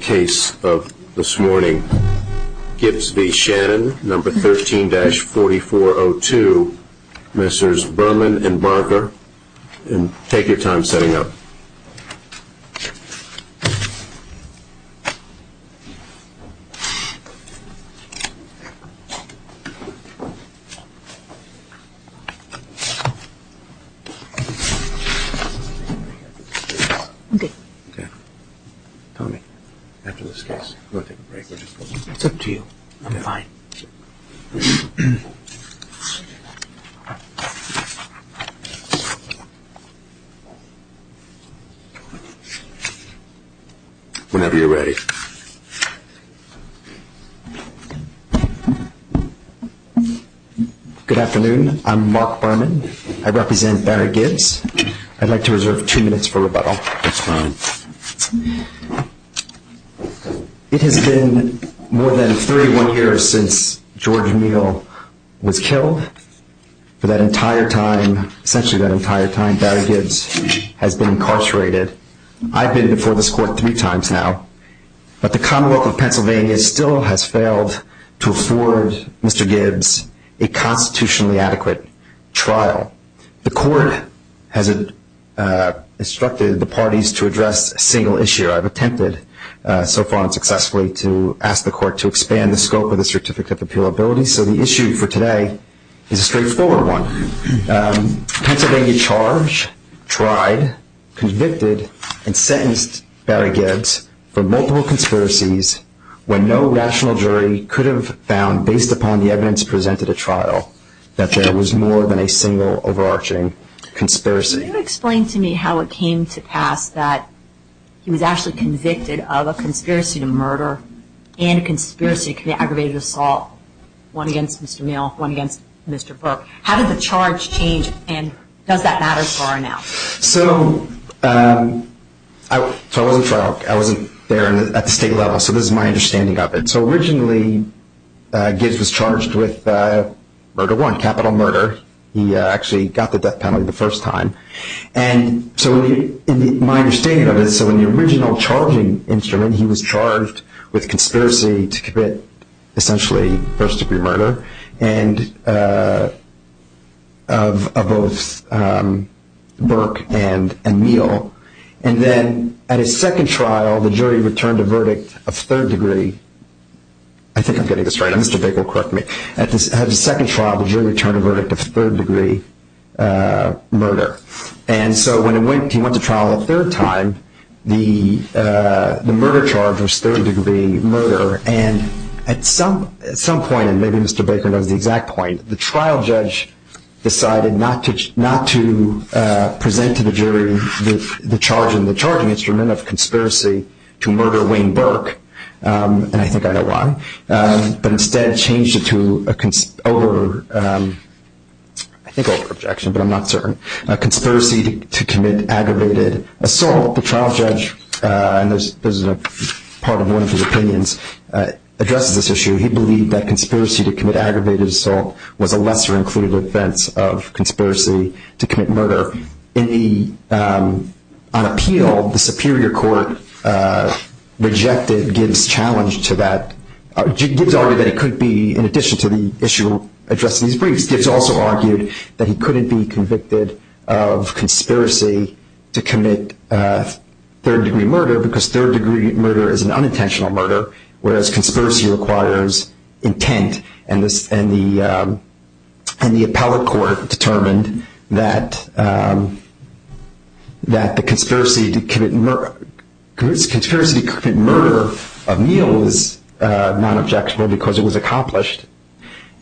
case of this morning. Gibbs v. Shannon, number 13-4402, Messrs. Brunman and Barker, and take your time setting up. Whenever you're ready. Good afternoon. I'm Mark Brunman. I represent Barry Gibbs. I'd like to reserve two minutes for rebuttal. That's fine. It has been more than 31 years since George Neal was killed. For that entire time, essentially that entire time, Barry Gibbs has been incarcerated. I've been before this court three times now, but the Commonwealth of Pennsylvania still has failed to afford Mr. Gibbs a constitutionally adequate trial. The court has instructed the parties to address a single issue. I've attempted so far and successfully to ask the court to expand the scope of the Certificate of Appeal Ability, so the issue for today is a straightforward one. Pennsylvania charged, tried, convicted, and sentenced Barry Gibbs for multiple conspiracies when no rational jury could have found, based upon the evidence presented at trial, that there was more than a single overarching conspiracy. Can you explain to me how it came to pass that he was actually convicted of a conspiracy to murder and a conspiracy to commit aggravated assault? One against Mr. Neal, one against Mr. Burke. How did the charge change, and does that matter far enough? So, I wasn't there at the state level, so this is my understanding of it. So, originally Gibbs was charged with murder one, capital murder. He actually got the death penalty the first time. So, in my understanding of it, in the original charging instrument, he was charged with conspiracy to commit, essentially, first degree murder of both Burke and Neal. And then, at his second trial, the jury returned a verdict of third degree. I think I'm getting this right. Mr. Baker will correct me. At his second trial, the jury returned a verdict of third degree murder. And so when he went to trial a third time, the murder charge was third degree murder. And at some point, and maybe Mr. Baker knows the exact point, the trial judge decided not to present to the jury the charging instrument of conspiracy to murder Wayne Burke, and I think I know why, but instead changed it to a conspiracy to commit aggravated assault. The trial judge, and this is part of one of his opinions, addresses this issue. He believed that conspiracy to commit aggravated assault was a lesser included offense of conspiracy to commit murder. On appeal, the superior court rejected Gibbs' challenge to that. Gibbs argued that it could be, in addition to the issue addressed in these briefs, Gibbs also argued that he couldn't be convicted of conspiracy to commit third degree murder, because third degree murder is an unintentional murder, whereas conspiracy requires intent. And the appellate court determined that the conspiracy to commit murder of Neal was not objectionable because it was accomplished.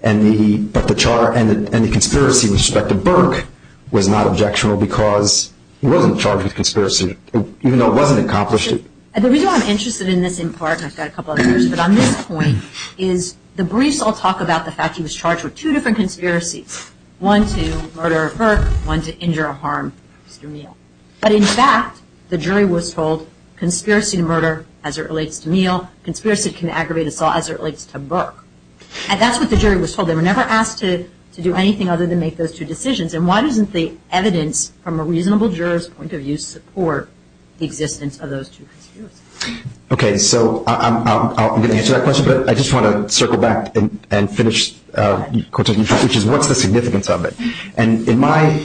And the conspiracy with respect to Burke was not objectionable because he wasn't charged with conspiracy, even though it wasn't accomplished. And the reason I'm interested in this in part, and I've got a couple others, but on this point, is the briefs all talk about the fact that he was charged with two different conspiracies, one to murder Burke, one to injure or harm Mr. Neal. But in fact, the jury was told conspiracy to murder as it relates to Neal, conspiracy to commit aggravated assault as it relates to Burke. And that's what the jury was told. They were never asked to do anything other than make those two decisions. And why doesn't the evidence from a reasonable juror's point of view support the existence of those two conspiracies? Okay, so I'm going to answer that question, but I just want to circle back and finish your question, which is what's the significance of it? And in my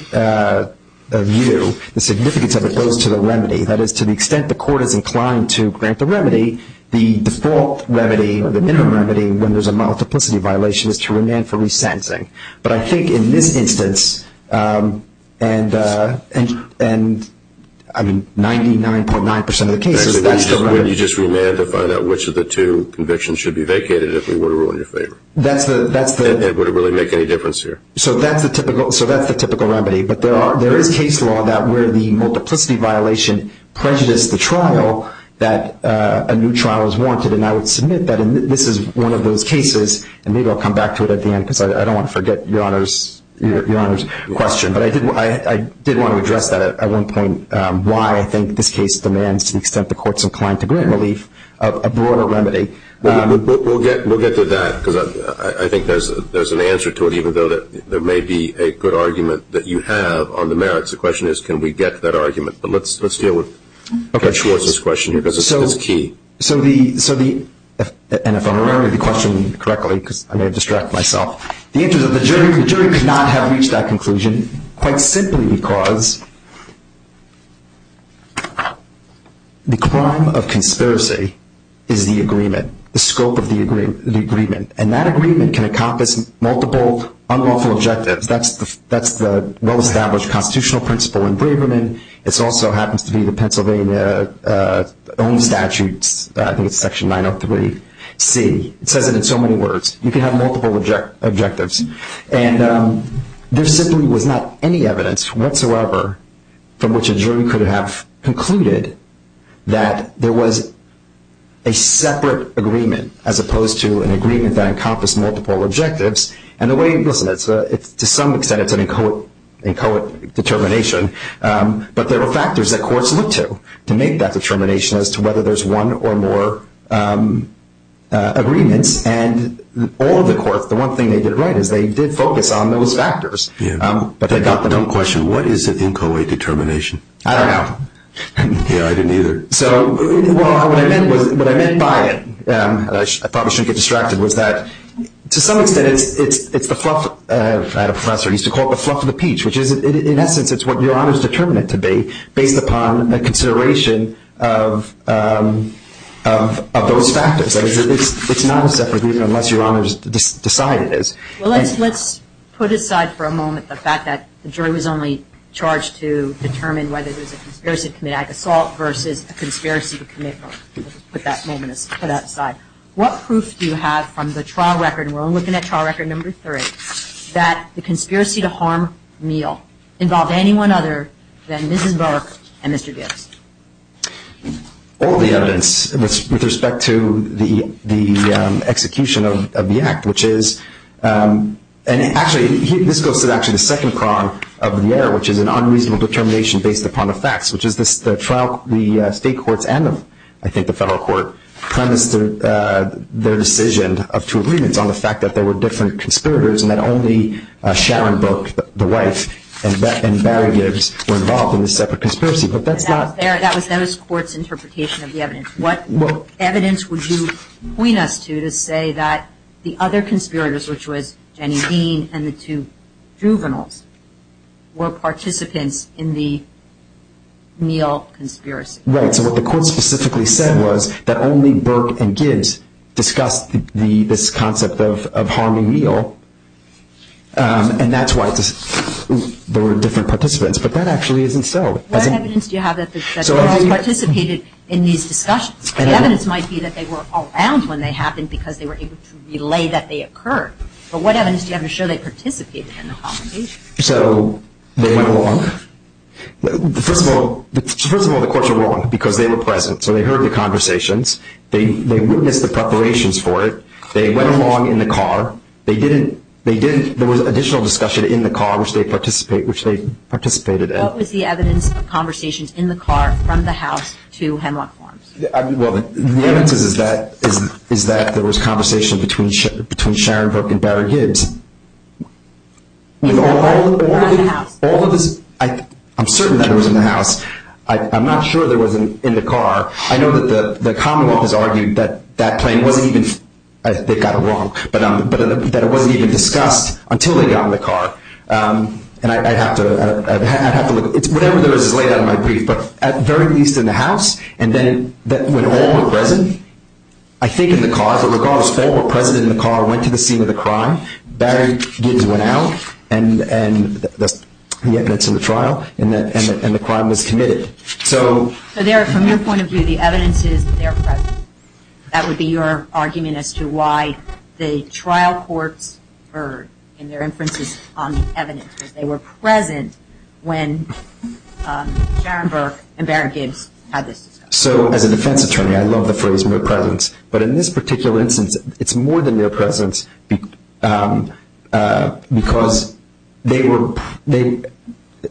view, the significance of it goes to the remedy. That is, to the extent the court is inclined to grant the remedy, the default remedy or the minimum remedy when there's a multiplicity violation is to remand for resentencing. But I think in this instance, and, I mean, 99.9% of the cases, that's the remedy. Actually, wouldn't you just remand to find out which of the two convictions should be vacated if we were to rule in your favor? That's the – And would it really make any difference here? So that's the typical remedy. But there is case law that where the multiplicity violation prejudiced the trial, that a new trial is warranted. And I would submit that this is one of those cases, and maybe I'll come back to it at the end, because I don't want to forget Your Honor's question. But I did want to address that at one point, why I think this case demands to the extent the court's inclined to grant relief, a broader remedy. We'll get to that, because I think there's an answer to it, even though there may be a good argument that you have on the merits. The question is, can we get that argument? But let's deal with Judge Schwartz's question here, because it's key. So the – and if I'm remembering the question correctly, because I may have distracted myself. The answer is that the jury could not have reached that conclusion, quite simply because the crime of conspiracy is the agreement, the scope of the agreement. And that agreement can encompass multiple unlawful objectives. That's the well-established constitutional principle in Braverman. It also happens to be the Pennsylvania own statutes, I think it's section 903C. It says it in so many words. You can have multiple objectives. And there simply was not any evidence whatsoever from which a jury could have concluded that there was a separate agreement as opposed to an agreement that encompassed multiple objectives. And the way – listen, to some extent it's an inchoate determination, but there were factors that courts looked to to make that determination as to whether there's one or more agreements. And all of the courts, the one thing they did right is they did focus on those factors. Yeah. But they got them. One question, what is an inchoate determination? I don't know. Yeah, I didn't either. So what I meant was – what I meant by it, and I probably shouldn't get distracted, was that to some extent it's the fluff – I had a professor who used to call it the fluff of the peach, which is in essence it's what your Honor's determined it to be based upon a consideration of those factors. It's not a separate agreement unless your Honor has decided it is. Well, let's put aside for a moment the fact that the jury was only charged to determine whether there was a conspiracy to commit an act of assault versus a conspiracy to commit murder. Let's put that aside. What proof do you have from the trial record, and we're only looking at trial record number three, that the conspiracy to harm Neal involved anyone other than Mrs. Burke and Mr. Gibbs? All the evidence with respect to the execution of the act, which is – and actually this goes to actually the second prong of the error, which is an unreasonable determination based upon the facts, which is the trial – the state courts and I think the federal court premised their decision of two agreements on the fact that there were different conspirators and that only Sharon Burke, the wife, and Barry Gibbs were involved in the separate conspiracy. But that's not – That was the court's interpretation of the evidence. What evidence would you point us to to say that the other conspirators, which was Jenny Dean and the two juveniles, were participants in the Neal conspiracy? Right. So what the court specifically said was that only Burke and Gibbs discussed this concept of harming Neal, and that's why there were different participants. But that actually isn't so. What evidence do you have that they all participated in these discussions? The evidence might be that they were around when they happened because they were able to relay that they occurred. But what evidence do you have to show they participated in the complication? So they went along. First of all, the courts were wrong because they were present. So they heard the conversations. They witnessed the preparations for it. They went along in the car. They didn't – there was additional discussion in the car, which they participated in. What was the evidence of conversations in the car from the house to Hemlock Farms? Well, the evidence is that there was conversation between Sharon Burke and Barry Gibbs. Around the house? I'm certain that it was in the house. I'm not sure there was in the car. I know that the Commonwealth has argued that that plane wasn't even – they got it wrong – but that it wasn't even discussed until they got in the car. And I'd have to look. Whatever there is is laid out in my brief. But at the very least in the house, and then when all were present, I think in the car, but regardless, all were present in the car, went to the scene of the crime. Barry Gibbs went out. And that's the evidence in the trial. And the crime was committed. So from your point of view, the evidence is that they're present. That would be your argument as to why the trial courts heard in their inferences on the evidence, that they were present when Sharon Burke and Barry Gibbs had this discussion. So as a defense attorney, I love the phrase mere presence. But in this particular instance, it's more than mere presence because they were –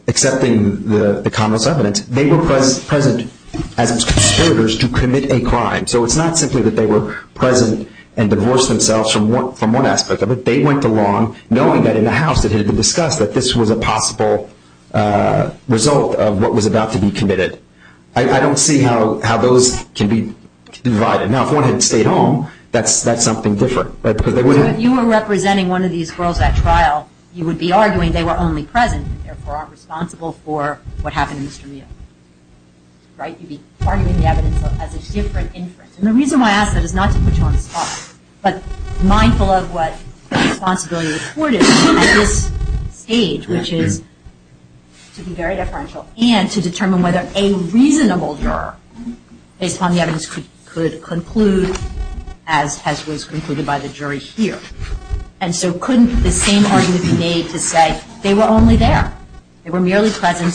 accepting the commonwealth's evidence – they were present as conspirators to commit a crime. So it's not simply that they were present and divorced themselves from one aspect of it. They went along knowing that in the house it had been discussed that this was a possible result of what was about to be committed. I don't see how those can be divided. Now, if one had stayed home, that's something different. So if you were representing one of these girls at trial, you would be arguing they were only present and therefore aren't responsible for what happened to Mr. Meehan. Right? You'd be arguing the evidence as a different inference. And the reason why I ask that is not to put you on the spot, but mindful of what the responsibility of the court is at this stage, which is to be very deferential and to determine whether a reasonable juror, based upon the evidence, could conclude as was concluded by the jury here. And so couldn't the same argument be made to say they were only there? They were merely present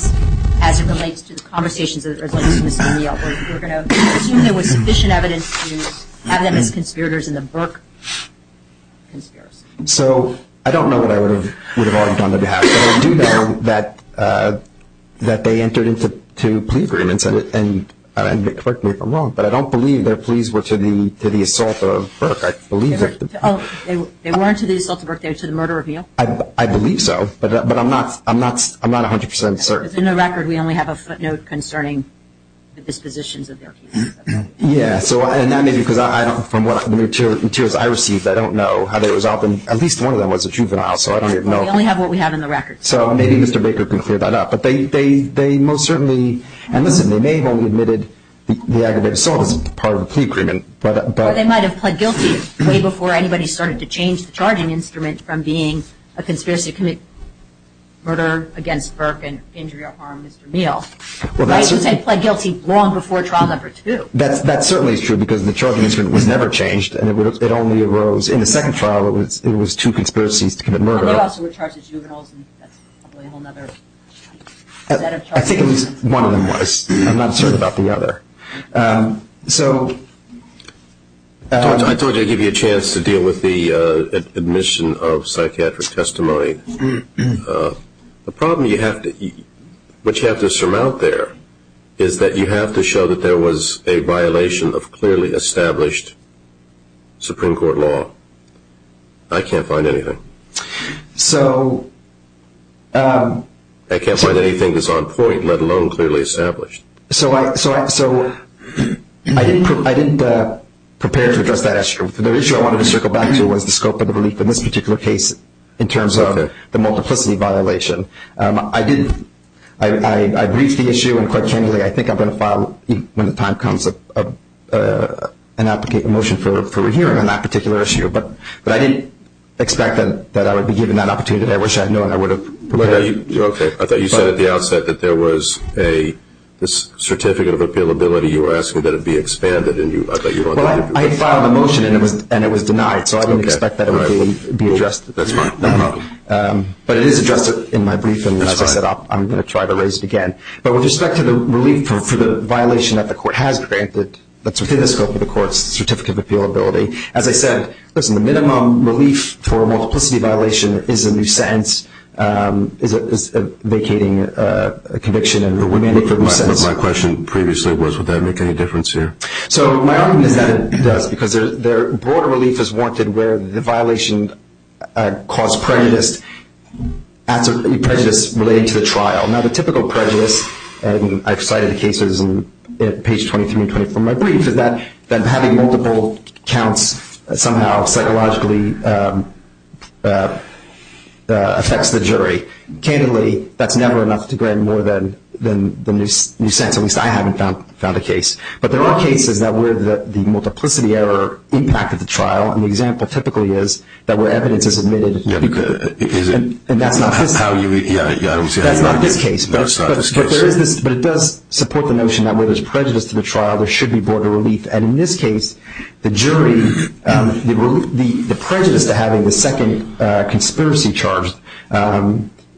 as it relates to the conversations that were going on with Mr. Meehan. We're going to assume there was sufficient evidence to have them as conspirators in the Burke conspiracy. So I don't know what I would have argued on their behalf. I do know that they entered into plea agreements. And correct me if I'm wrong, but I don't believe their pleas were to the assault of Burke. I believe they were. They weren't to the assault of Burke. They were to the murder of Meehan. I believe so. But I'm not 100 percent certain. Within the record, we only have a footnote concerning the dispositions of their cases. Yeah. And that may be because from the materials I received, I don't know how they resolved them. At least one of them was a juvenile, so I don't know. We only have what we have in the record. So maybe Mr. Baker can clear that up. But they most certainly – and listen, they may have only admitted the aggravated assault as part of a plea agreement. Or they might have pled guilty way before anybody started to change the charging instrument from being a conspiracy to commit murder against Burke and injury or harm Mr. Meehan. But I would say pled guilty long before trial number two. That certainly is true because the charging instrument was never changed, and it only arose in the second trial. It was two conspiracies to commit murder. They also were charged as juveniles, and that's probably a whole other set of charges. I think it was – one of them was. I'm not certain about the other. So – I told you I'd give you a chance to deal with the admission of psychiatric testimony. The problem you have to – what you have to surmount there is that you have to show that there was a violation of clearly established Supreme Court law. I can't find anything. So – I can't find anything that's on point, let alone clearly established. So I didn't prepare to address that issue. The issue I wanted to circle back to was the scope of the relief in this particular case in terms of the multiplicity violation. I did – I briefed the issue and quite genuinely I think I'm going to file, when the time comes, an application – a motion for a hearing on that particular issue. But I didn't expect that I would be given that opportunity. I wish I had known I would have prepared. Okay. I thought you said at the outset that there was a certificate of appealability. You were asking that it be expanded, and I thought you wanted to – Well, I had filed a motion, and it was denied. So I didn't expect that it would be addressed. That's fine. No problem. But it is addressed in my brief, and as I said, I'm going to try to raise it again. But with respect to the relief for the violation that the court has granted, that's within the scope of the court's certificate of appealability, as I said, listen, the minimum relief for a multiplicity violation is a new sentence, is a vacating conviction, and we may make a new sentence. But my question previously was would that make any difference here? So my argument is that it does because there are broader reliefs as warranted where the violation caused prejudice relating to the trial. Now, the typical prejudice, and I've cited cases on page 23 and 24 in my brief, is that having multiple counts somehow psychologically affects the jury. Candidly, that's never enough to grant more than a new sentence. At least I haven't found a case. But there are cases that where the multiplicity error impacted the trial, and the example typically is that where evidence is admitted to be good. And that's not this case. That's not this case. But it does support the notion that where there's prejudice to the trial, there should be broader relief. And in this case, the jury, the prejudice to having the second conspiracy charged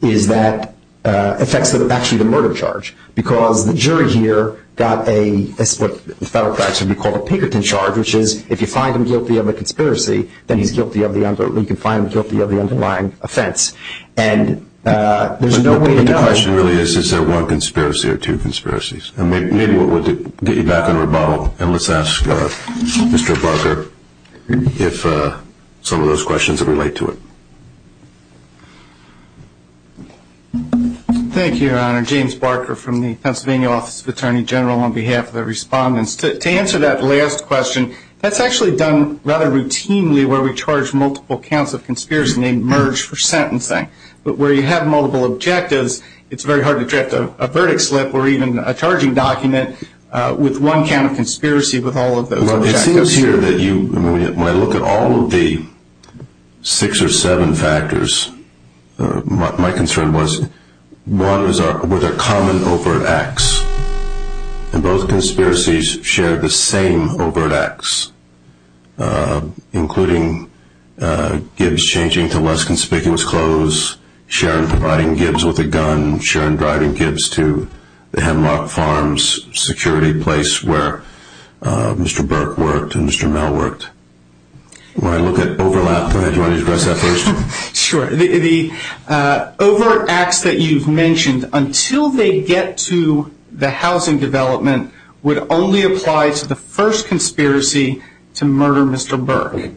is that it affects actually the murder charge because the jury here got what the federal practice would call a Pinkerton charge, which is if you find him guilty of a conspiracy, then you can find him guilty of the underlying offense. And there's no way to know. But the question really is, is there one conspiracy or two conspiracies? And maybe we'll get you back on rebuttal. And let's ask Mr. Barker some of those questions that relate to it. Thank you, Your Honor. James Barker from the Pennsylvania Office of Attorney General on behalf of the respondents. To answer that last question, that's actually done rather routinely where we charge multiple counts of conspiracy, and they merge for sentencing. But where you have multiple objectives, it's very hard to draft a verdict slip or even a charging document with one count of conspiracy with all of those objectives. Well, it seems here that when I look at all of the six or seven factors, my concern was one was a common over X. And both conspiracies shared the same over X, including Gibbs changing to less conspicuous clothes, Sharon providing Gibbs with a gun, Sharon driving Gibbs to the Hemlock Farms security place where Mr. Burke worked and Mr. Mel worked. When I look at overlap, do you want to address that first? Sure. The over X that you've mentioned until they get to the housing development would only apply to the first conspiracy to murder Mr. Burke.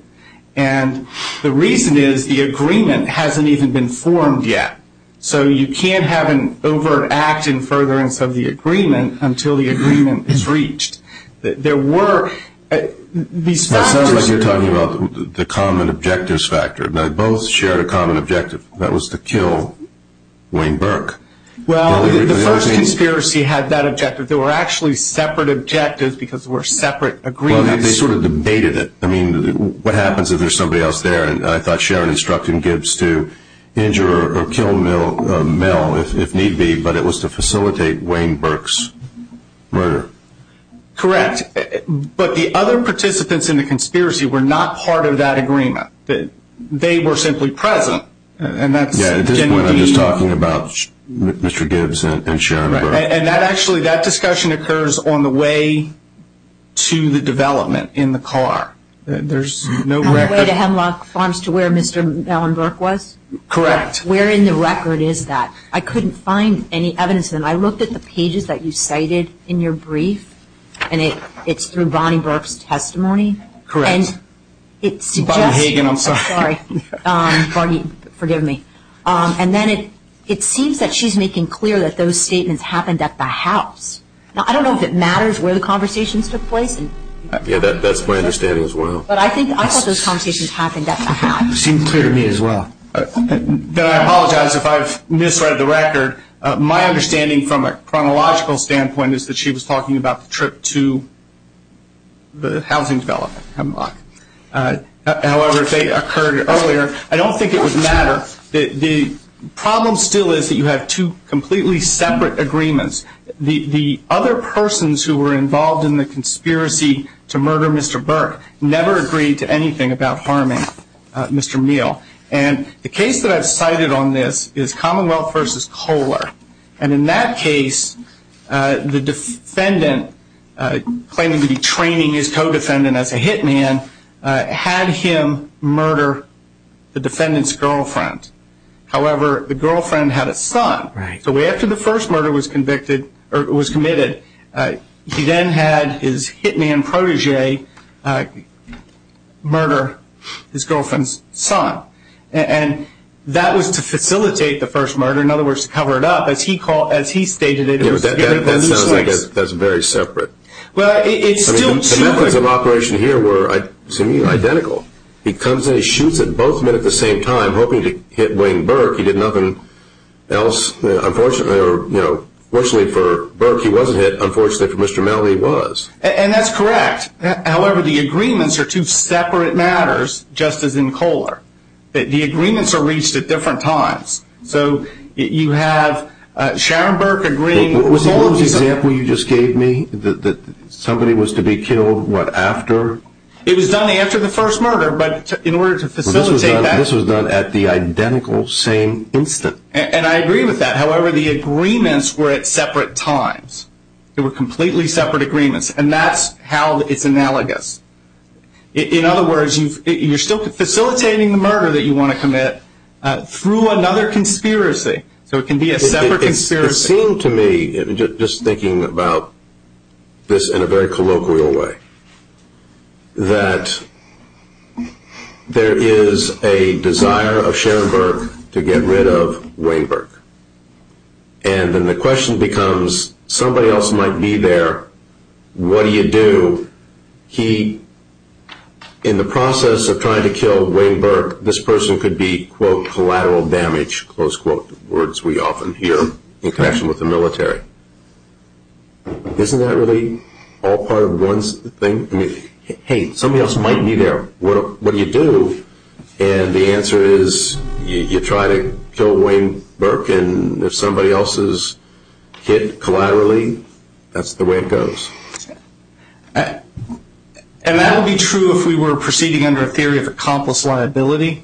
And the reason is the agreement hasn't even been formed yet. So you can't have an over X in furtherance of the agreement until the agreement is reached. There were these factors. That sounds like you're talking about the common objectives factor. Now, both shared a common objective. That was to kill Wayne Burke. Well, the first conspiracy had that objective. There were actually separate objectives because there were separate agreements. Well, they sort of debated it. I mean, what happens if there's somebody else there? And I thought Sharon instructed Gibbs to injure or kill Mel if need be, but it was to facilitate Wayne Burke's murder. Correct. But the other participants in the conspiracy were not part of that agreement. They were simply present. Yeah, at this point I'm just talking about Mr. Gibbs and Sharon Burke. And actually that discussion occurs on the way to the development in the car. There's no record. On the way to Hemlock Farms to where Mr. Allen Burke was? Correct. Where in the record is that? I couldn't find any evidence of that. I looked at the pages that you cited in your brief, and it's through Bonnie Burke's testimony. Correct. Bonnie Hagan, I'm sorry. Bonnie, forgive me. And then it seems that she's making clear that those statements happened at the house. Now, I don't know if it matters where the conversations took place. Yeah, that's my understanding as well. But I thought those conversations happened at the house. It seemed clear to me as well. Then I apologize if I've misread the record. My understanding from a chronological standpoint is that she was talking about the trip to the housing development, Hemlock. However, they occurred earlier. I don't think it would matter. The problem still is that you have two completely separate agreements. The other persons who were involved in the conspiracy to murder Mr. Burke never agreed to anything about harming Mr. Meal. And the case that I've cited on this is Commonwealth v. Kohler. And in that case, the defendant, claiming to be training his co-defendant as a hitman, had him murder the defendant's girlfriend. However, the girlfriend had a son. Right. So after the first murder was committed, he then had his hitman protégé murder his girlfriend's son. And that was to facilitate the first murder. In other words, to cover it up. As he stated, it was to get rid of the loose ends. That's very separate. The methods of operation here were, to me, identical. He comes and he shoots at both men at the same time, hoping to hit Wayne Burke. He did nothing else. Unfortunately for Burke, he wasn't hit. Unfortunately for Mr. Meal, he was. And that's correct. However, the agreements are two separate matters, just as in Kohler. The agreements are reached at different times. So you have Sharon Burke agreeing... Was the example you just gave me that somebody was to be killed, what, after? It was done after the first murder, but in order to facilitate that... And I agree with that. However, the agreements were at separate times. They were completely separate agreements, and that's how it's analogous. In other words, you're still facilitating the murder that you want to commit through another conspiracy. So it can be a separate conspiracy. It seemed to me, just thinking about this in a very colloquial way, that there is a desire of Sharon Burke to get rid of Wayne Burke. And then the question becomes, somebody else might be there. What do you do? He, in the process of trying to kill Wayne Burke, this person could be, quote, collateral damage, close quote, words we often hear in connection with the military. Isn't that really all part of one thing? I mean, hey, somebody else might be there. What do you do? And the answer is, you try to kill Wayne Burke, and if somebody else is hit collaterally, that's the way it goes. And that would be true if we were proceeding under a theory of accomplice liability.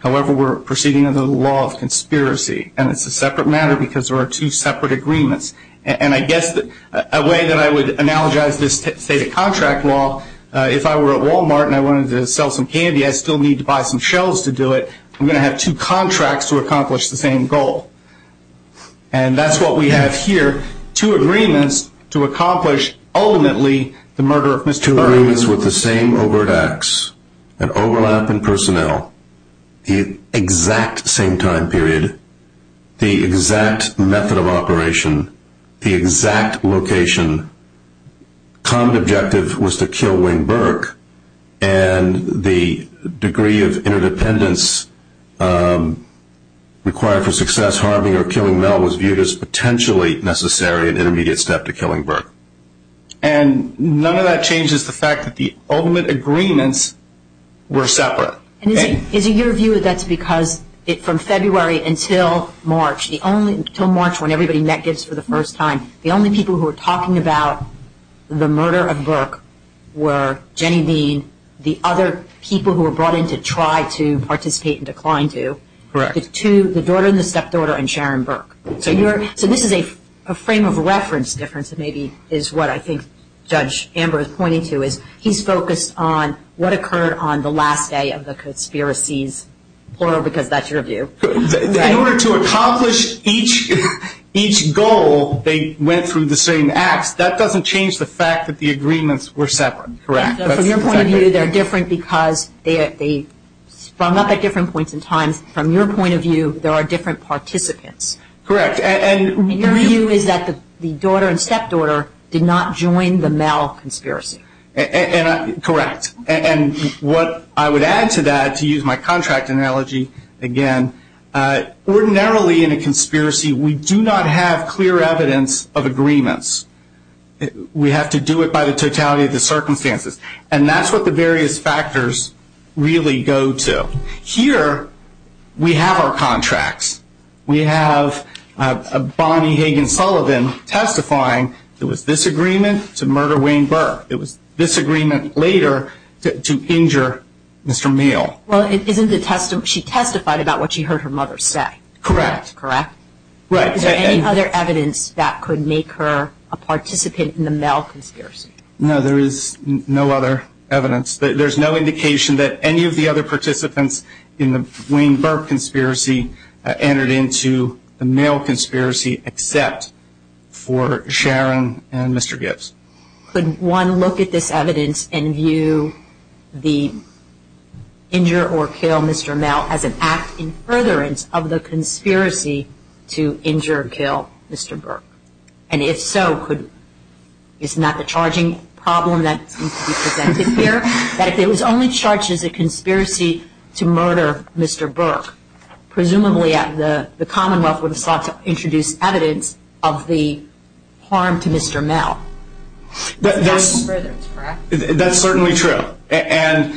However, we're proceeding under the law of conspiracy, and it's a separate matter because there are two separate agreements. And I guess a way that I would analogize this, say, to contract law, if I were at Walmart and I wanted to sell some candy, I still need to buy some shelves to do it. I'm going to have two contracts to accomplish the same goal. And that's what we have here, two agreements to accomplish, ultimately, the murder of Mr. Burke. Agreements with the same overt acts and overlap in personnel, the exact same time period, the exact method of operation, the exact location. Common objective was to kill Wayne Burke, and the degree of interdependence required for success, harming or killing Mel was viewed as potentially necessary and intermediate step to killing Burke. And none of that changes the fact that the ultimate agreements were separate. And is it your view that that's because from February until March, until March when everybody met Gibbs for the first time, the only people who were talking about the murder of Burke were Jenny Dean, the other people who were brought in to try to participate and decline to, the daughter and the stepdaughter, and Sharon Burke. So this is a frame of reference difference maybe is what I think Judge Amber is pointing to, is he's focused on what occurred on the last day of the conspiracies, plural, because that's your view. In order to accomplish each goal, they went through the same acts. That doesn't change the fact that the agreements were separate, correct? From your point of view, they're different because they sprung up at different points in time. From your point of view, there are different participants. Correct. And your view is that the daughter and stepdaughter did not join the Mel conspiracy. Correct. And what I would add to that, to use my contract analogy again, ordinarily in a conspiracy, we do not have clear evidence of agreements. We have to do it by the totality of the circumstances. And that's what the various factors really go to. Here, we have our contracts. We have Bonnie Hagan Sullivan testifying. It was this agreement to murder Wayne Burke. It was this agreement later to injure Mr. Meehl. Well, she testified about what she heard her mother say. Correct. Correct? Right. Is there any other evidence that could make her a participant in the Mel conspiracy? No, there is no other evidence. There's no indication that any of the other participants in the Wayne Burke conspiracy entered into the Mel conspiracy except for Sharon and Mr. Gibbs. Could one look at this evidence and view the injure or kill Mr. Mel as an act in furtherance of the conspiracy to injure or kill Mr. Burke? And if so, isn't that the charging problem that needs to be presented here? That if it was only charged as a conspiracy to murder Mr. Burke, presumably the Commonwealth would have sought to introduce evidence of the harm to Mr. Mel. That's certainly true. And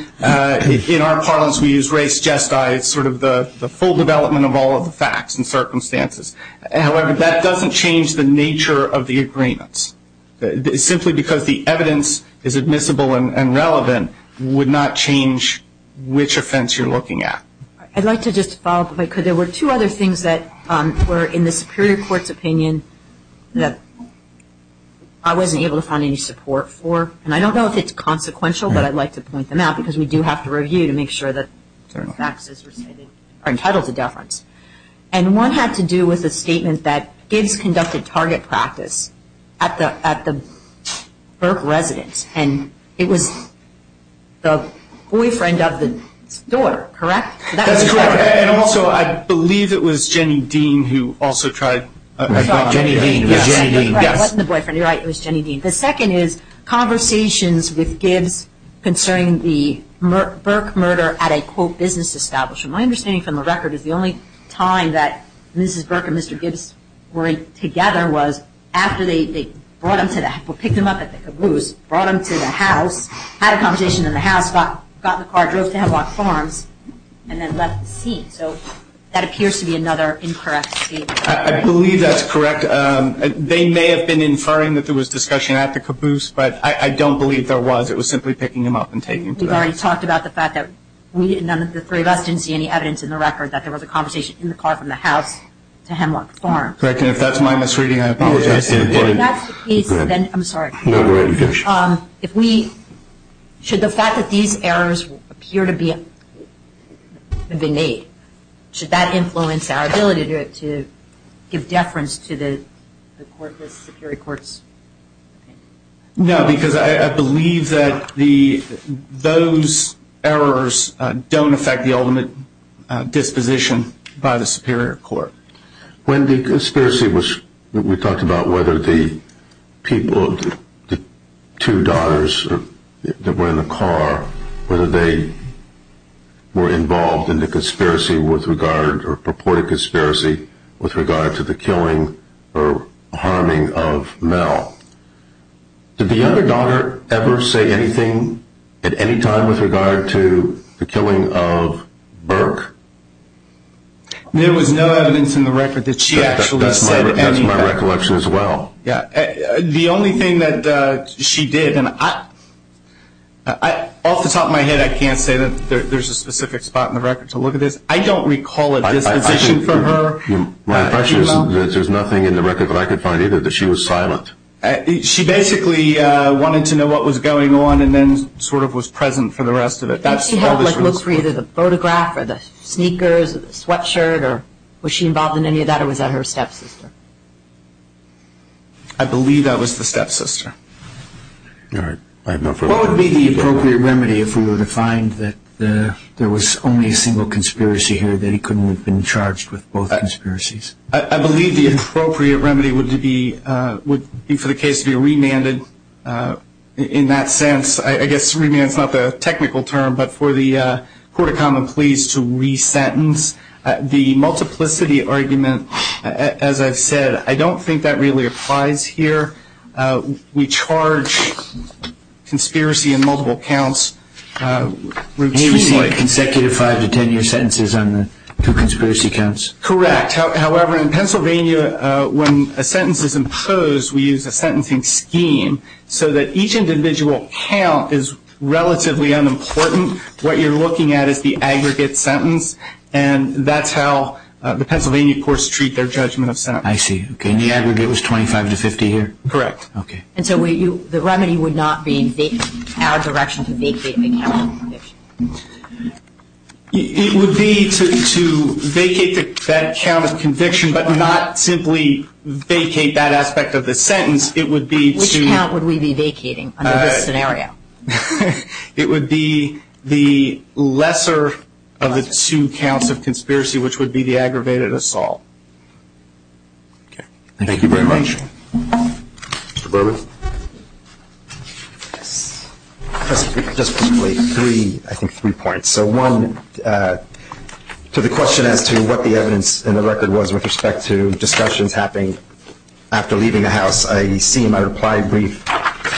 in our parlance, we use race jest. It's sort of the full development of all of the facts and circumstances. However, that doesn't change the nature of the agreements. Simply because the evidence is admissible and relevant would not change which offense you're looking at. I'd like to just follow up if I could. There were two other things that were in the Superior Court's opinion that I wasn't able to find any support for. And I don't know if it's consequential, but I'd like to point them out because we do have to review to make sure that facts are entitled to deference. And one had to do with a statement that Gibbs conducted target practice at the Burke residence. And it was the boyfriend of the daughter, correct? That's correct. And also, I believe it was Jenny Dean who also tried. Jenny Dean. It wasn't the boyfriend. You're right. It was Jenny Dean. The second is conversations with Gibbs concerning the Burke murder at a, quote, business establishment. My understanding from the record is the only time that Mrs. Burke and Mr. Gibbs were together was after they picked him up at the caboose, brought him to the house, had a conversation in the house, got in the car, drove to Havelock Farms, and then left the scene. So that appears to be another incorrect statement. I believe that's correct. They may have been inferring that there was discussion at the caboose, but I don't believe there was. It was simply picking him up and taking him to the house. We've already talked about the fact that none of the three of us didn't see any evidence in the record that there was a conversation in the car from the house to Havelock Farms. Correct. And if that's my misreading, I apologize. If that's the case, then I'm sorry. No, you're right. If we – should the fact that these errors appear to be innate, should that influence our ability to give deference to the court, the superior courts? No, because I believe that those errors don't affect the ultimate disposition by the superior court. When the conspiracy was – we talked about whether the people, the two daughters that were in the car, whether they were involved in the conspiracy with regard, or purported conspiracy, with regard to the killing or harming of Mel. Did the other daughter ever say anything at any time with regard to the killing of Burke? There was no evidence in the record that she actually said anything. That's my recollection as well. The only thing that she did, and off the top of my head, I can't say that there's a specific spot in the record to look at this. I don't recall a disposition for her. My impression is that there's nothing in the record that I could find either, that she was silent. She basically wanted to know what was going on and then sort of was present for the rest of it. Did she look for either the photograph or the sneakers or the sweatshirt, or was she involved in any of that, or was that her stepsister? I believe that was the stepsister. All right. What would be the appropriate remedy if we were to find that there was only a single conspiracy here, that he couldn't have been charged with both conspiracies? I believe the appropriate remedy would be for the case to be remanded in that sense. I guess remand is not the technical term, but for the court of common pleas to re-sentence. The multiplicity argument, as I've said, I don't think that really applies here. We charge conspiracy in multiple counts routinely. You mean like consecutive five- to ten-year sentences on the two conspiracy counts? Correct. However, in Pennsylvania, when a sentence is imposed, we use a sentencing scheme so that each individual count is relatively unimportant. What you're looking at is the aggregate sentence, and that's how the Pennsylvania courts treat their judgment of sentence. I see. Okay. And the aggregate was 25 to 50 here? Correct. Okay. And so the remedy would not be our direction to vacate the count of conviction? It would be to vacate that count of conviction, but not simply vacate that aspect of the sentence. It would be to – Which count would we be vacating under this scenario? It would be the lesser of the two counts of conspiracy, which would be the aggravated assault. Okay. Thank you very much. Mr. Berman? Just briefly, I think three points. So one, to the question as to what the evidence in the record was with respect to discussions happening after leaving the house, I see in my reply brief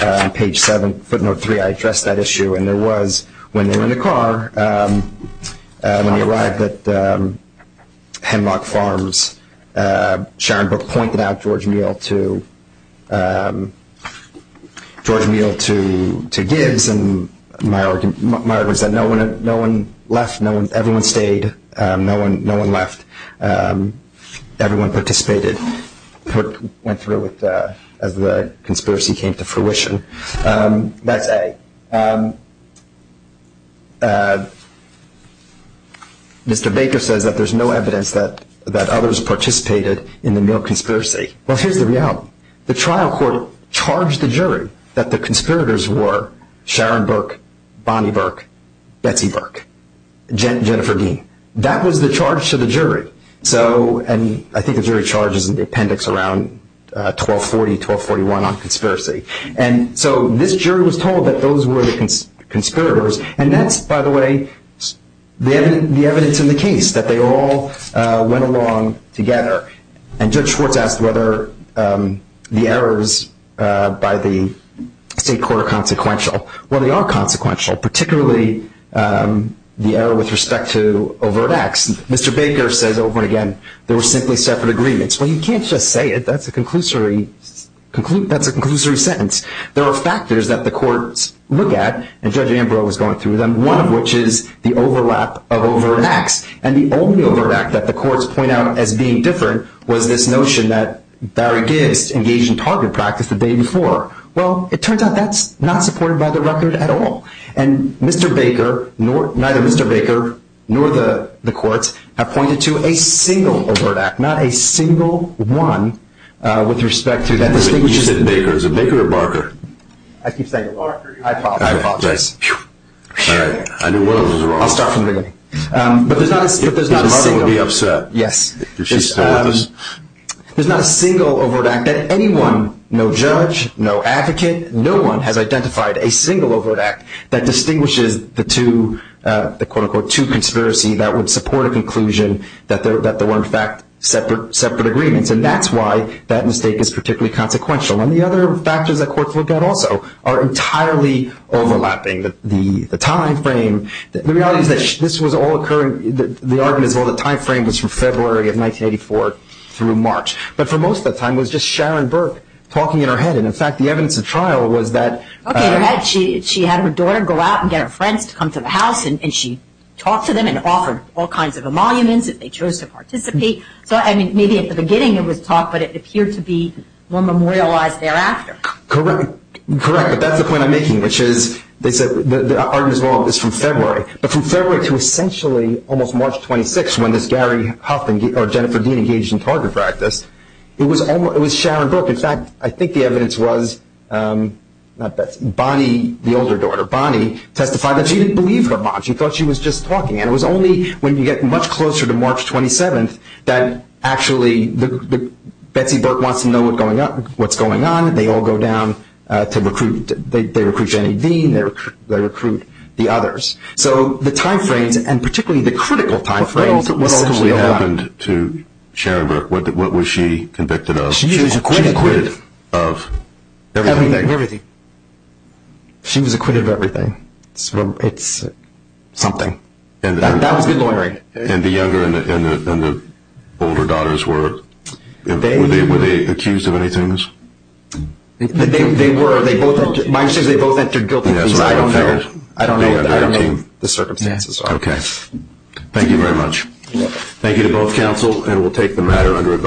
on page 7, footnote 3, I addressed that issue, and there was, when they were in the car, when they arrived at Hemlock Farms, Sharon Book pointed out George Meal to Gibbs, and my argument is that no one left, everyone stayed, no one left, everyone participated, went through as the conspiracy came to fruition. That's A. Mr. Baker says that there's no evidence that others participated in the Meal conspiracy. Well, here's the reality. The trial court charged the jury that the conspirators were Sharon Burke, Bonnie Burke, Betsy Burke, Jennifer Dean. That was the charge to the jury, and I think the jury charges in the appendix around 1240, 1241 on conspiracy. And so this jury was told that those were the conspirators, and that's, by the way, the evidence in the case, that they all went along together. And Judge Schwartz asked whether the errors by the state court are consequential. Well, they are consequential, particularly the error with respect to overt acts. Mr. Baker says over and again there were simply separate agreements. Well, you can't just say it. That's a conclusory sentence. There are factors that the courts look at, and Judge Ambrose was going through them, one of which is the overlap of overt acts, and the only overt act that the courts point out as being different was this notion that Barry Gibbs engaged in target practice the day before. Well, it turns out that's not supported by the record at all. And Mr. Baker, neither Mr. Baker nor the courts have pointed to a single overt act, not a single one with respect to that. You said Baker. Is it Baker or Barker? I keep saying Barker. I apologize. I apologize. All right. I knew one of those was wrong. I'll start from the beginning. But there's not a single. If it's Barker, we'd be upset. Yes. If she's still with us. There's not a single overt act that anyone, no judge, no advocate, no one has identified a single overt act that distinguishes the two, the quote, unquote, two conspiracy that would support a conclusion that there were, in fact, separate agreements. And that's why that mistake is particularly consequential. And the other factors that courts look at also are entirely overlapping. The time frame, the reality is that this was all occurring, the time frame was from February of 1984 through March. But for most of the time, it was just Sharon Burke talking in her head. And, in fact, the evidence of trial was that. Okay. She had her daughter go out and get her friends to come to the house, and she talked to them and offered all kinds of emoluments, and they chose to participate. So, I mean, maybe at the beginning it was taught, but it appeared to be more memorialized thereafter. Correct. Correct. But that's the point I'm making, which is they said the argument is wrong. It's from February. But from February to essentially almost March 26th when this Gary Huff or Jennifer Dean engaged in target practice, it was Sharon Burke. In fact, I think the evidence was Bonnie, the older daughter. Bonnie testified that she didn't believe her mom. She thought she was just talking. And it was only when you get much closer to March 27th that actually Betsy Burke wants to know what's going on. They all go down to recruit. They recruit Jenny Dean. They recruit the others. So the time frames, and particularly the critical time frames, was essentially a lie. What ultimately happened to Sharon Burke? What was she convicted of? She was acquitted. She was acquitted of everything. Everything. She was acquitted of everything. It's something. That was good lawyering. And the younger and the older daughters, were they accused of any things? They were. Mine says they both entered guilty. I don't know. I don't know the circumstances. Okay. Thank you very much. Thank you to both counsel. And we'll take the matter under a vote.